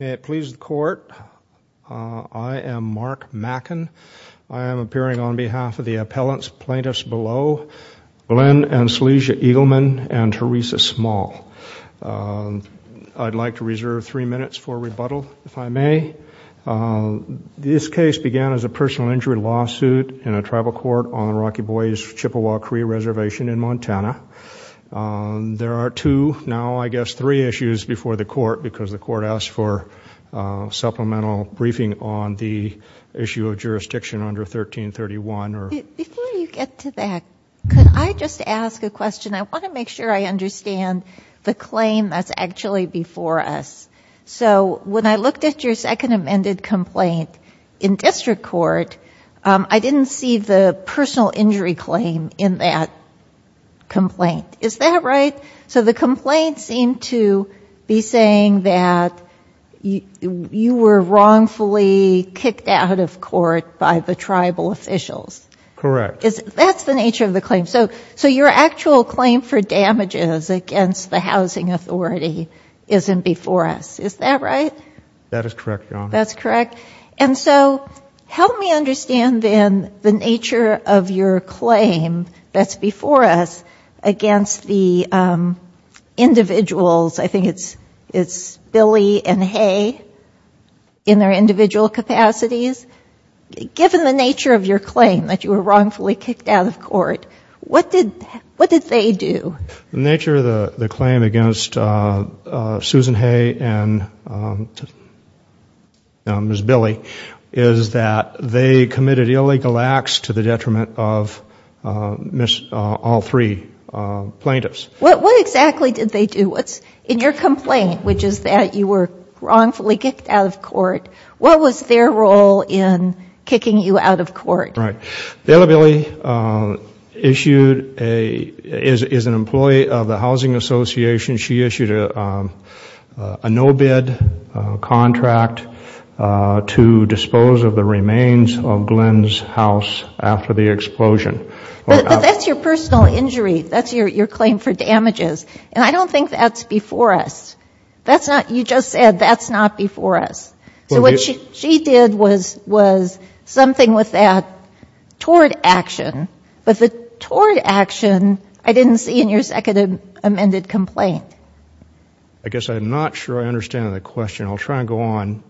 May it please the Court, I am Mark Mackin. I am appearing on behalf of the appellants, plaintiffs below, Glenn and Selesia Eagleman and Teresa Small. I'd like to reserve three minutes for rebuttal, if I may. This case began as a personal injury lawsuit in a tribal court on the Rocky Boys Chippewa-Cree Reservation in Montana. There are two, now I guess three issues before the Court because the Court asked for supplemental briefing on the issue of jurisdiction under 1331. Before you get to that, could I just ask a question? I want to make sure I understand the claim that's actually before us. So when I looked at your second amended complaint in district court, I didn't see the personal injury claim in that complaint. Is that right? So the complaint seemed to be saying that you were wrongfully kicked out of court by the tribal officials. Correct. That's the nature of the claim. So your actual claim for damages against the housing authority isn't before us. Is that right? That is correct, Your Honor. That's correct. And so help me understand then the claim that's before us against the individuals, I think it's Billy and Hay in their individual capacities. Given the nature of your claim that you were wrongfully kicked out of court, what did they do? The nature of the claim against Susan Hay and Ms. Billy is that they were wrongfully kicked out of court. What was their role in kicking you out of court? Right. Billy is an employee of the Housing Association. She issued a no-bid contract to dispose of the remains of Glenn's house after the explosion. But that's your personal injury. That's your claim for damages. And I don't think that's before us. That's not you just said, that's not before us. So what she did was something with that tort action. But the tort action, I didn't see in your second amended complaint. I guess I'm not sure I understand the question. I'll try and go on.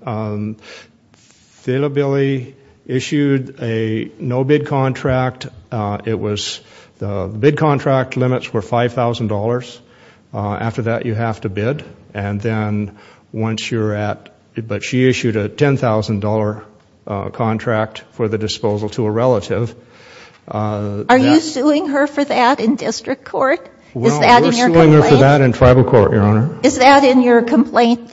Billy issued a no-bid contract. It was the bid contract limits were $5,000. After that you have to bid. And then once you're at, but she issued a $10,000 contract for the disposal to a relative. Are you suing her for that in district court? Is that in your complaint? We're suing her for that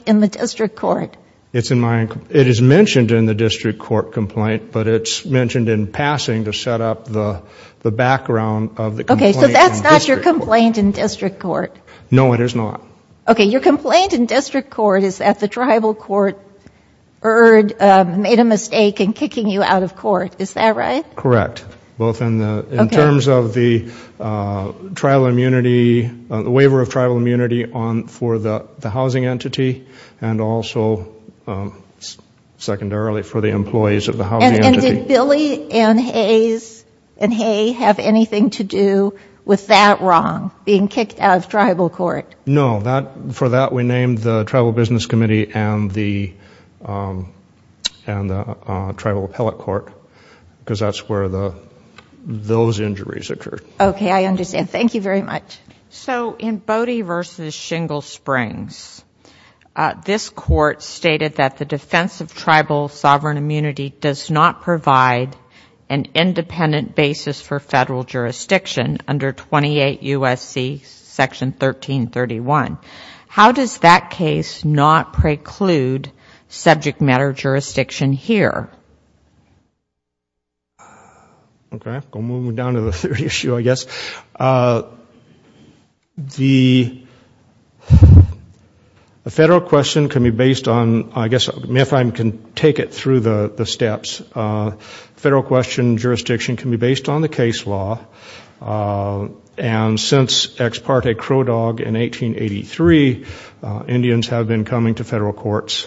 in the district court. It's in my, it is mentioned in the district court complaint, but it's mentioned in passing to set up the background of the complaint. Okay, so that's not your complaint in district court. No, it is not. Okay, your complaint in district court is that the tribal court made a mistake in kicking you out of court. Is that right? Correct. Both in the, in terms of the tribal immunity, the waiver of tribal immunity on for the housing entity and also secondarily for the employees of the housing entity. And did Billy and Hayes and Hayes have anything to do with that wrong, being kicked out of tribal court? No, that, for that we named the tribal business committee and the, and the tribal appellate court because that's where the, those injuries occurred. Okay, I understand. Thank you very much. So in Bodie v. Shingle Springs, this court stated that the defense of tribal sovereign immunity does not provide an independent basis for federal jurisdiction under 28 U.S.C. Section 1331. How does that case not preclude subject matter jurisdiction here? Okay, we're moving down to the third issue, I guess. The federal question can be based on, I guess if I can take it through the steps. Federal question jurisdiction can be based on the case law and since Ex parte Crow Dog in 1883, Indians have been coming to federal courts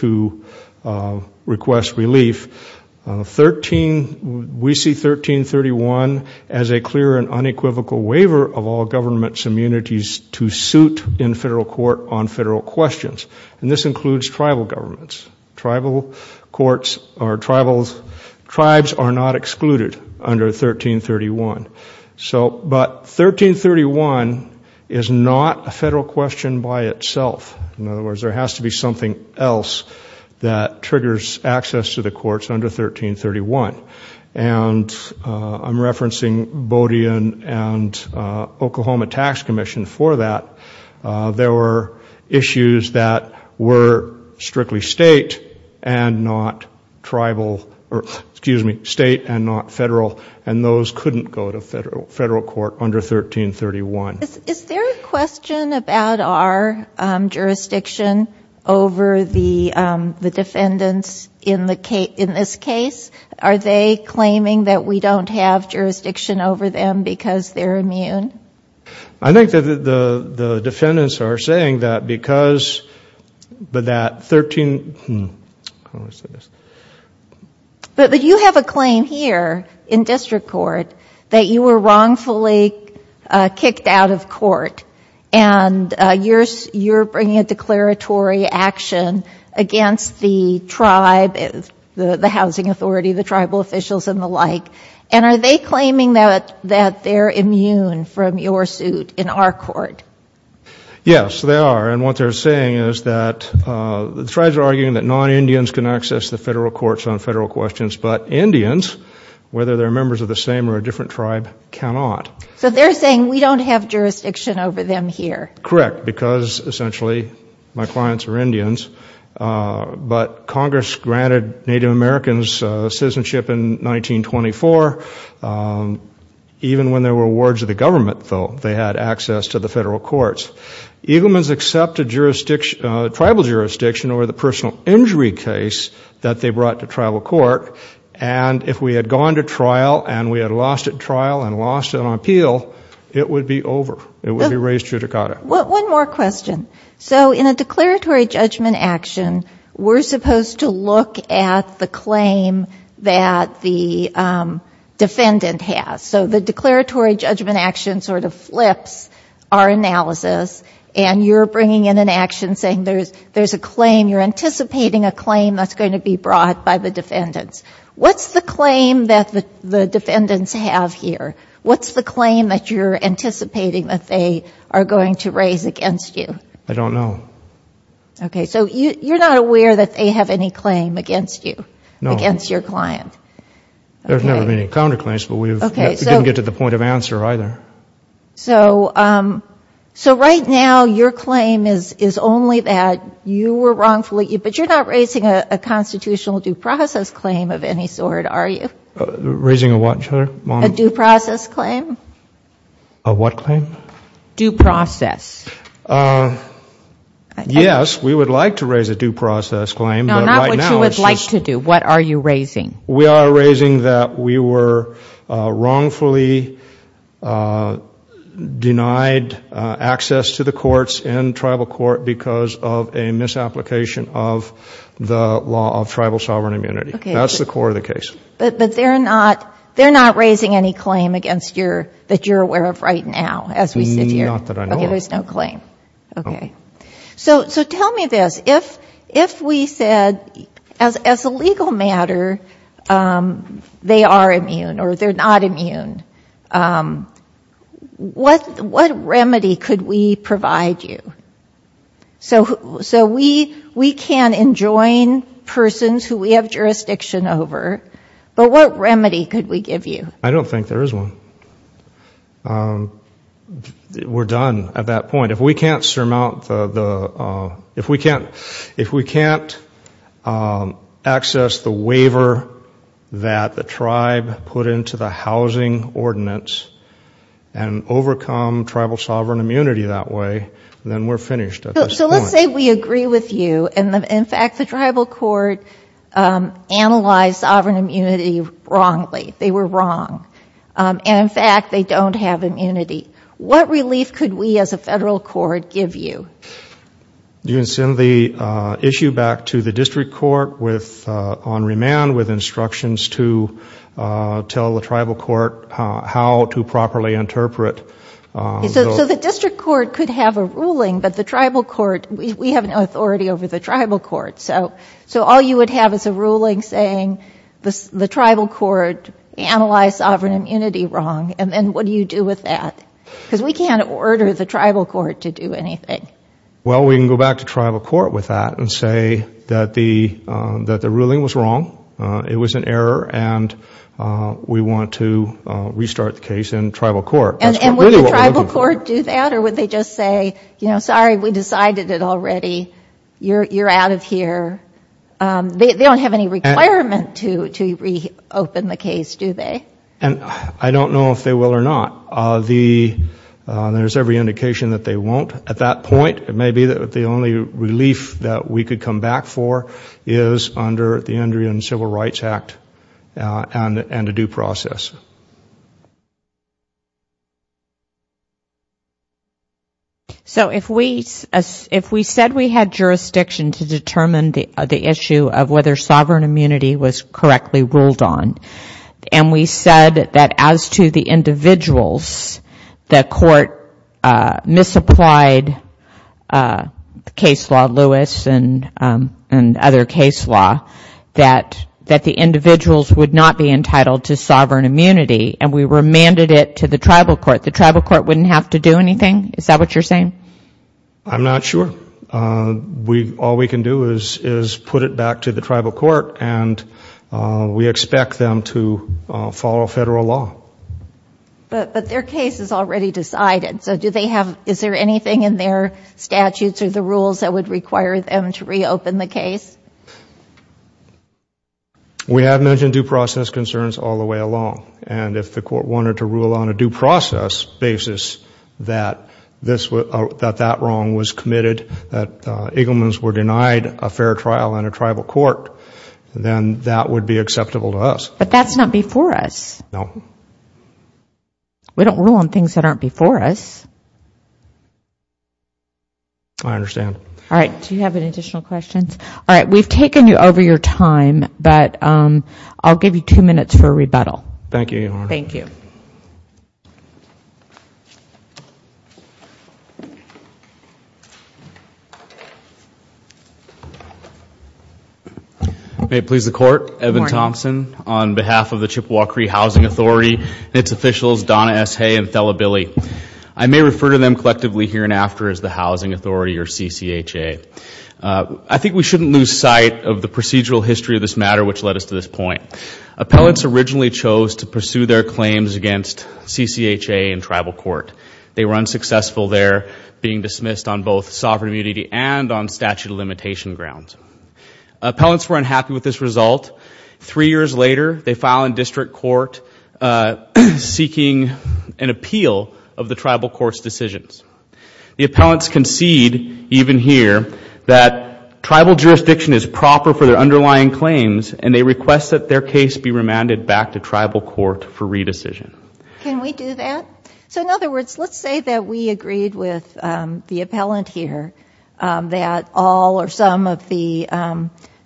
to request relief. 13, we see 1331 as a clear and unequivocal waiver of all government's immunities to suit in federal court on federal questions. And this includes tribal governments. Tribal courts are tribal, tribes are not excluded under 1331. So, but 1331 is not a federal question by itself. In other words, there has to be something else that triggers access to the courts under 1331. And I'm referencing Bodie and Oklahoma Tax Commission for that. There were issues that were strictly state and not tribal, excuse me, state and not federal, and those couldn't go to federal court under 1331. Is there a question about our jurisdiction over the defendants in this case? Are they claiming that we don't have jurisdiction over them because they're immune? I think that the defendants are saying that because, but that 13, hmm, how do I say this? But you have a claim here in district court that you were wrongfully kicked out of court and you're bringing a declaratory action against the tribe, the housing authority, the tribal officials and the like. And are they claiming that they're immune from your suit in our court? Yes, they are. And what they're saying is that the tribes are arguing that non-Indians can access the federal courts on federal questions, but Indians, whether they're members of the same or a different tribe, cannot. So they're saying we don't have jurisdiction over them here. Correct, because essentially my clients are Indians. But Congress granted Native Americans citizenship in 1924. Even when there were wards of the government, though, they had access to the federal courts. Eagleman's accepted tribal jurisdiction over the personal injury case that they brought to tribal court. And if we had gone to trial and we had lost at trial and lost on appeal, it would be over. It would be raised judicata. One more question. So in a declaratory judgment action, we're supposed to look at the claim that the defendant has. So the declaratory judgment action sort of flips our analysis and you're bringing in an action saying there's a claim, you're anticipating a claim that's going to be brought by the defendants. What's the claim that the defendants have here? What's the claim that you're anticipating that they are going to raise against you? I don't know. Okay. So you're not aware that they have any claim against you, against your client? No. There's never been any counterclaims, but we didn't get to the point of answer either. So right now your claim is only that you were wrongfully, but you're not raising a constitutional due process claim of any sort, are you? Raising a what, Heather? A due process claim? A what claim? Due process. Yes, we would like to raise a due process claim, but right now it's just... No, not what you would like to do. What are you raising? We are raising that we were wrongfully denied access to the courts in tribal court because of a misapplication of the law of tribal sovereign immunity. That's the core of the case. But they're not raising any claim that you're aware of right now, as we sit here. Not that I know of. Okay, there's no claim. Okay. So tell me this. If we said, as a legal matter, you're not immune, they are immune, or they're not immune, what remedy could we provide you? So we can enjoin persons who we have jurisdiction over, but what remedy could we give you? I don't think there is one. We're done at that point. If we can't access the waiver that the tribe put into the housing ordinance and overcome tribal sovereign immunity that way, then we're finished at this point. So let's say we agree with you, and in fact the tribal court analyzed sovereign immunity wrongly. They were wrong. And in fact, they don't have immunity. What relief could we as a federal court give you? Do you send the issue back to the district court on remand with instructions to tell the tribal court how to properly interpret? So the district court could have a ruling, but the tribal court, we have no authority over the tribal court. So all you would have is a ruling saying the tribal court analyzed sovereign immunity wrong, and then what do you do with that? Because we can't order the Well, we can go back to tribal court with that and say that the ruling was wrong, it was an error, and we want to restart the case in tribal court. And would the tribal court do that, or would they just say, you know, sorry, we decided it already, you're out of here? They don't have any requirement to reopen the case, do they? And I don't know if they will or not. There's every indication that they won't at that point. Maybe the only relief that we could come back for is under the Indian Civil Rights Act and a due process. So if we said we had jurisdiction to determine the issue of whether sovereign immunity was correctly ruled on, and we said that as to the individuals, the court misapplied the case law, Lewis and other case law, that the individuals would not be entitled to sovereign immunity, and we remanded it to the tribal court, the tribal court wouldn't have to do anything? Is that what you're saying? I'm not sure. All we can do is put it back to the tribal court, and we expect them to follow federal law. But their case is already decided. So do they have, is there anything in their statutes or the rules that would require them to reopen the case? We have mentioned due process concerns all the way along. And if the court wanted to rule on a due process basis that this, that that wrong was committed, that Eaglemans were denied a fair trial in a tribal court, then that would be acceptable to us. But that's not before us. No. We don't rule on things that aren't before us. I understand. All right, do you have any additional questions? All right, we've taken you over your time, but I'll give you two minutes for a rebuttal. Thank you, Your Honor. Thank you. May it please the Court, Evan Thompson on behalf of the Chippewa Cree Housing Authority and its officials, Donna S. Hay and Thela Billy. I may refer to them collectively here and after as the Housing Authority or CCHA. I think we shouldn't lose sight of the procedural history of this matter which led us to this point. Appellants originally chose to pursue their claims against CCHA because they felt that they had a right to do so. They were unsuccessful there being dismissed on both sovereign immunity and on statute of limitation grounds. Appellants were unhappy with this result. Three years later, they filed in district court seeking an appeal of the tribal court's decisions. The appellants concede even here that tribal jurisdiction is proper for their underlying claims and they request that their case be remanded back to tribal court for re-decision. Can we do that? So in other words, let's say that we agreed with the appellant here that all or some of the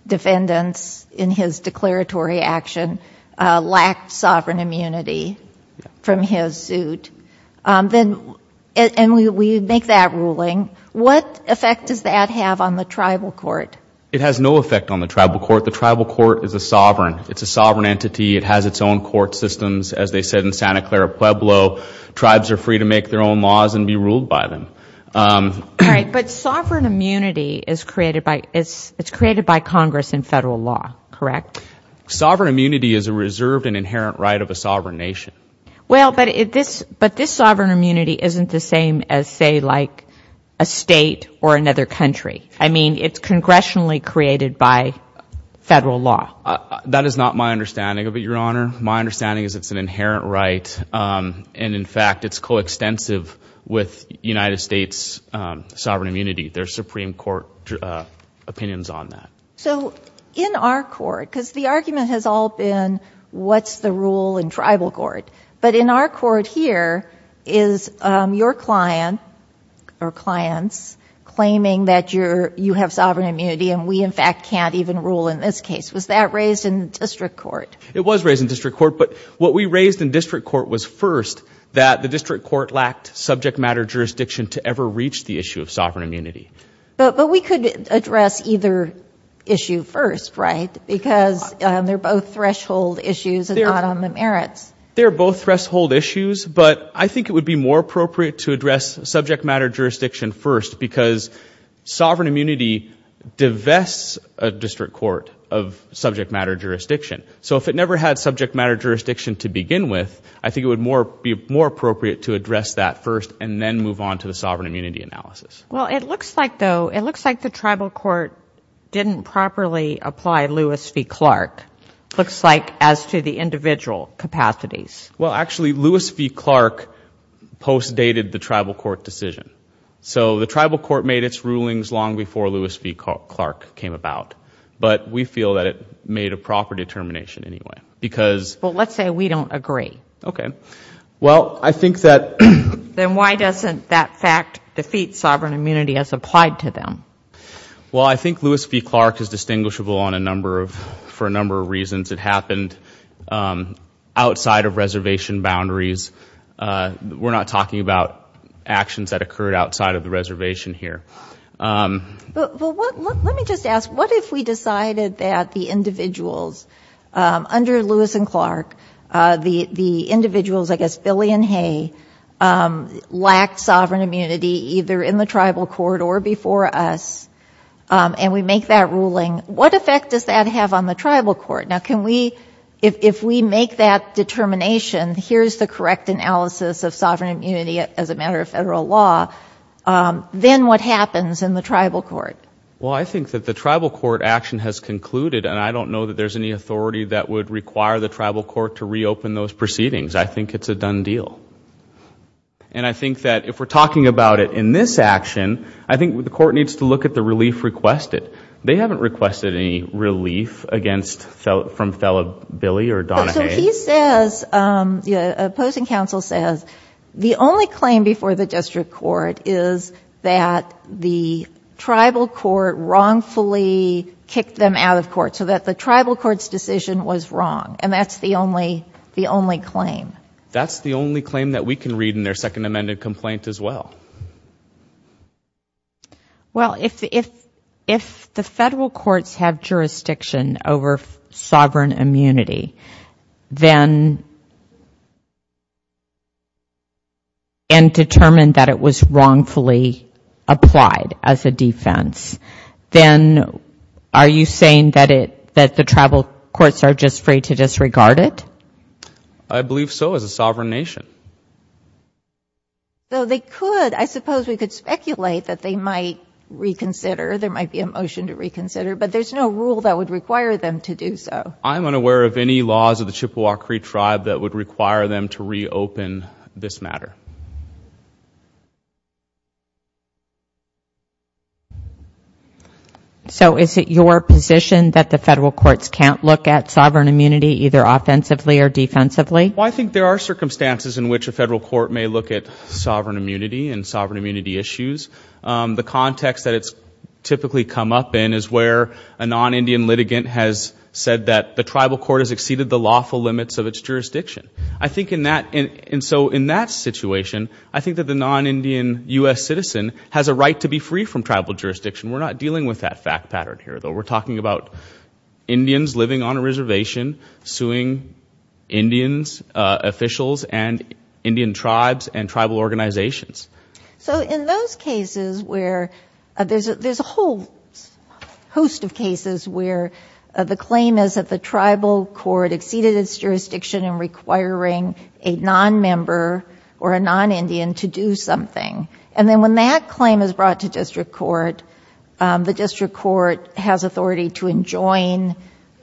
defendants in his declaratory action lacked sovereign immunity from his suit and we make that ruling. What effect does that have on the tribal court? It has no effect on the tribal court. The tribal court is a sovereign. It's a sovereign entity. It has its own court systems. As they said in Santa Clara Pueblo, tribes are free to make their own laws and be ruled by them. All right. But sovereign immunity is created by Congress in federal law, correct? Sovereign immunity is a reserved and inherent right of a sovereign nation. Well, but this sovereign immunity isn't the same as say like a state or another country. I mean it's congressionally created by federal law. That is not my understanding of it, Your Honor. My understanding is it's an inherent right and in fact it's coextensive with United States sovereign immunity. There's Supreme Court opinions on that. So in our court, because the argument has all been what's the rule in tribal court, but in our court here is your client or clients claiming that you have sovereign immunity and we in fact can't even rule in this case. Was that raised in district court? It was raised in district court, but what we raised in district court was first that the district court lacked subject matter jurisdiction to ever reach the issue of sovereign immunity. But we could address either issue first, right? Because they're both threshold issues and not on the merits. They're both threshold issues, but I think it would be more appropriate to address subject matter jurisdiction first because sovereign immunity divests a district court of subject matter jurisdiction. So if it never had subject matter jurisdiction to begin with, I think it would be more appropriate to address that first and then move on to the sovereign immunity analysis. Well, it looks like though, it looks like the tribal court didn't properly apply Lewis v. Clark. Looks like as to the individual capacities. Well, actually Lewis v. Clark post dated the tribal court decision. So the tribal court made its rulings long before Lewis v. Clark came about. But we feel that it made a proper determination anyway because Well, let's say we don't agree. Okay. Well, I think that Then why doesn't that fact defeat sovereign immunity as applied to them? Well, I think Lewis v. Clark is distinguishable on a number of, for a number of reasons. It happened outside of reservation boundaries. We're not talking about actions that occurred outside of the reservation here. Well, let me just ask, what if we decided that the individuals under Lewis v. Clark, the individuals, I guess, Billy and Hay, lacked sovereign immunity either in the tribal court or before us and we make that ruling. What effect does that have on the tribal court? Now, can we, if we make that determination, here's the correct analysis of sovereign immunity as a matter of federal law, then what happens in the tribal court? Well, I think that the tribal court action has concluded and I don't know that there's any authority that would require the tribal court to reopen those proceedings. I think it's a done deal. And I think that if we're talking about it in this action, I think the court needs to look at the relief requested. They haven't requested any relief against, from fellow Billy or Donna Hay. So he says, the opposing counsel says, the only claim before the district court is that the tribal court wrongfully kicked them out of court so that the tribal court's decision was wrong and that's the only claim. That's the only claim that we can read in their second amended complaint as well. Well, if the federal courts have jurisdiction over sovereign immunity, then and determined that it was wrongfully applied as a defense, then are you saying that the tribal courts are just free to disregard it? I believe so as a sovereign nation. So they could. I suppose we could speculate that they might reconsider. There might be a motion to reconsider. But there's no rule that would require them to do so. I'm unaware of any laws of the Chippewa Cree tribe that would require them to reopen this matter. So is it your position that the federal courts can't look at sovereign immunity either offensively or defensively? Well, I think there are circumstances in which a federal court may look at sovereign immunity and sovereign immunity issues. The context that it's typically come up in is where a non-Indian litigant has said that the tribal court has exceeded the lawful limits of its jurisdiction. And so in that situation, I think that the non-Indian U.S. citizen has a right to be free from tribal jurisdiction. We're not dealing with that fact pattern here, though. We're talking about Indians living on a reservation, suing Indians, officials, and Indian tribes and tribal organizations. So in those cases where there's a whole host of cases where the claim is that the tribal court exceeded its jurisdiction in requiring a non-member or a non-Indian to do something. And then when that claim is brought to district court, the district court has authority to enjoin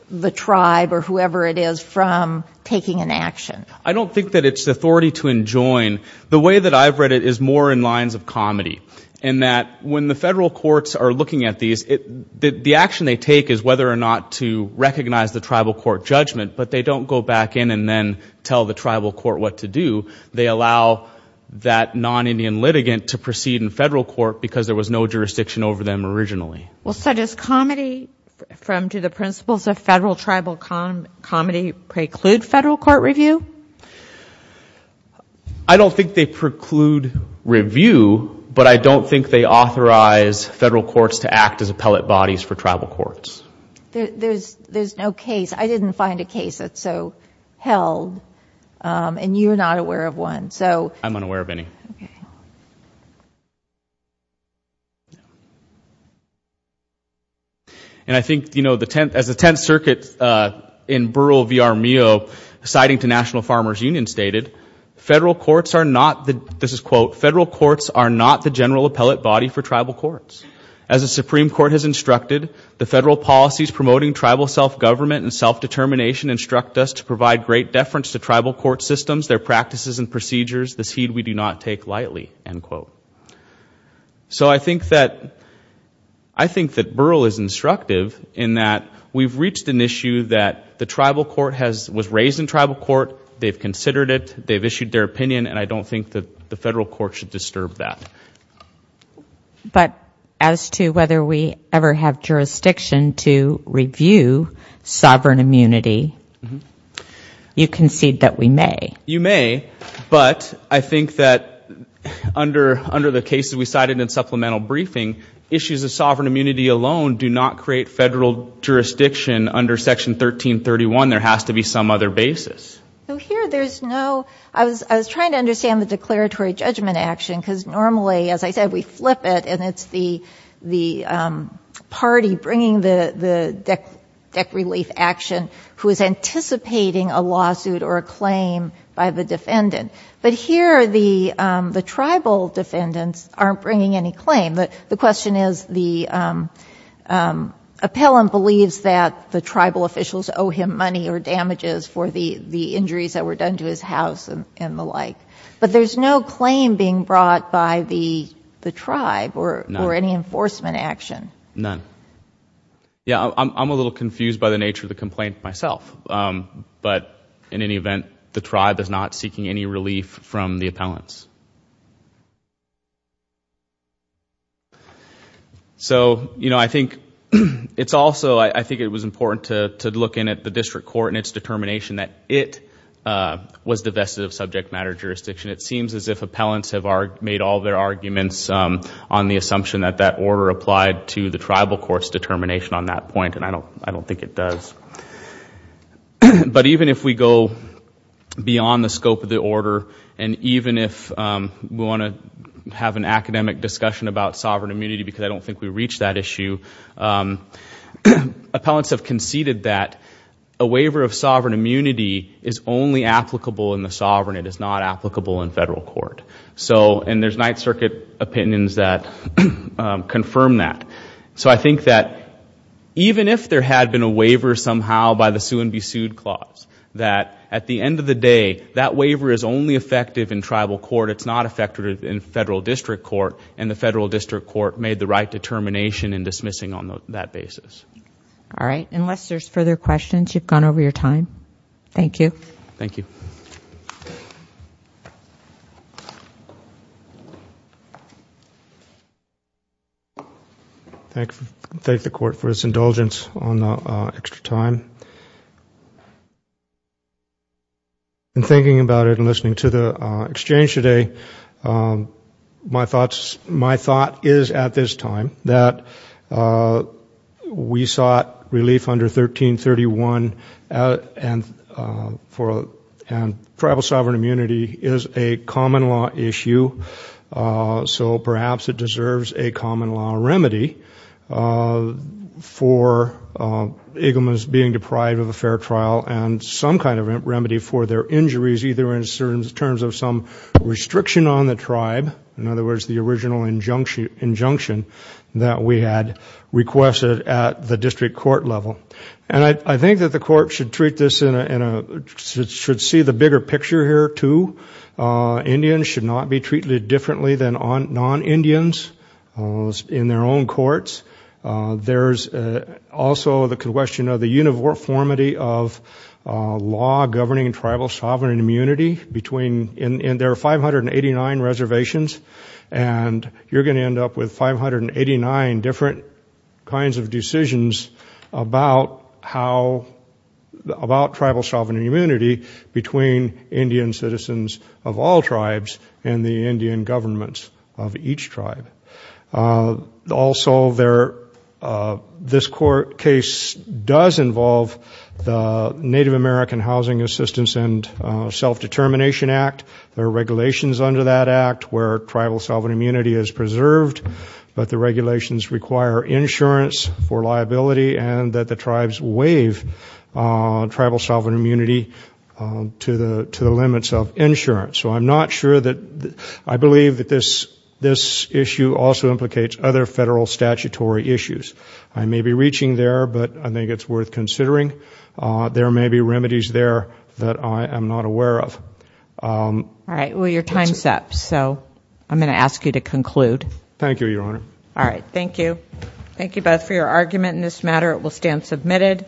the tribe or whoever it is from taking an action. I don't think that it's authority to enjoin. The way that I've read it is more in lines of comedy, in that when the federal courts are looking at these, the action they take is whether or not to recognize the tribal court judgment, but they don't go back in and then tell the tribal court what to do. They allow that non-Indian litigant to proceed in federal court because there was no jurisdiction over them originally. Well, so does comedy from to the principles of federal tribal comedy preclude federal court review? I don't think they preclude review, but I don't think they authorize federal courts to act as appellate bodies for tribal courts. There's no case. I didn't find a case that's so held, and you're not aware of one. I'm unaware of any. And I think, you know, as the Tenth Circuit in Burrill v. R. Mio, citing to National Farmers Union, stated, federal courts are not the, this is quote, federal courts are not the general appellate body for tribal courts. As the Supreme Court has instructed, the federal policies promoting tribal self-government and self-determination instruct us to provide great deference to tribal court systems, their practices and procedures, this heed we do not take lightly, end quote. So I think that, I think that Burrill is instructive in that we've reached an issue that the tribal court has, was raised in tribal court, they've considered it, they've issued their opinion, and I don't think that the federal court should disturb that. But as to whether we ever have jurisdiction to review sovereign immunity, you concede that we may. You may, but I think that under the cases we cited in supplemental briefing, issues of sovereign immunity alone do not create federal jurisdiction under Section 1331. There has to be some other basis. Here there's no, I was trying to understand the declaratory judgment action, because normally, as I said, we flip it, and it's the party bringing the deck relief action who is anticipating a lawsuit or a claim by the defendant. But here the tribal defendants aren't bringing any claim. The question is the appellant believes that the tribal officials owe him money or damages for the injuries that were done to his house and the like. But there's no claim being brought by the tribe or any enforcement action. None. Yeah, I'm a little confused by the nature of the complaint, myself. But in any event, the tribe is not seeking any relief from the appellants. So I think it's also, I think it was important to look in at the district court and its determination that it was divested of subject matter jurisdiction. It seems as if appellants have made all their arguments on the assumption that that order applied to the tribal court's determination on that point, and I don't think it does. But even if we go beyond the scope of the order, and even if we want to have an academic discussion about sovereign immunity, because I don't think we've reached that issue, appellants have conceded that a waiver of sovereign immunity is only applicable in the sovereign. It is not applicable in federal court. So, and there's Ninth Circuit opinions that confirm that. So I think that even if there had been a waiver somehow by the sue and be sued clause, that at the end of the day, that waiver is only effective in tribal court. It's not effective in federal district court, and the federal district court made the right determination in dismissing on that basis. All right. Unless there's further questions, you've gone over your time. Thank you. Thank you. Thank you. Thank the court for its indulgence on the extra time. In thinking about it and listening to the exchange today, my thoughts, my thought is at this time that we sought relief under 1331 and for, and tribal sovereign immunity is a common law issue. So perhaps it deserves a common law remedy for Iglamas being deprived of a fair trial and some kind of remedy for their injuries, either in terms of some restriction on the tribe, in other words, the original injunction that we had requested at the district court level. And I think that the court should treat this in a, should see the bigger picture here too. Indians should not be treated differently than non-Indians in their own courts. There's also the question of the uniformity of law governing tribal sovereign immunity between, and there are 589 reservations, and you're going to end up with 589 different kinds of decisions about how, about tribal sovereign immunity between Indian citizens of all tribes and the Indian governments of each tribe. Also there, this court case does involve the Native American Housing Assistance and Self-Determination Act. There are regulations under that act where tribal sovereign immunity is preserved, but the regulations require insurance for liability and that the tribes waive tribal sovereign immunity to the limits of insurance. So I'm not sure that, I believe that this issue also implicates other federal statutory issues. I may be reaching there, but I think it's worth considering. There may be remedies there that I am not aware of. All right, well your time's up, so I'm going to ask you to conclude. Thank you, Your Honor. All right, thank you. Thank you both for your argument in this matter. It will stand submitted.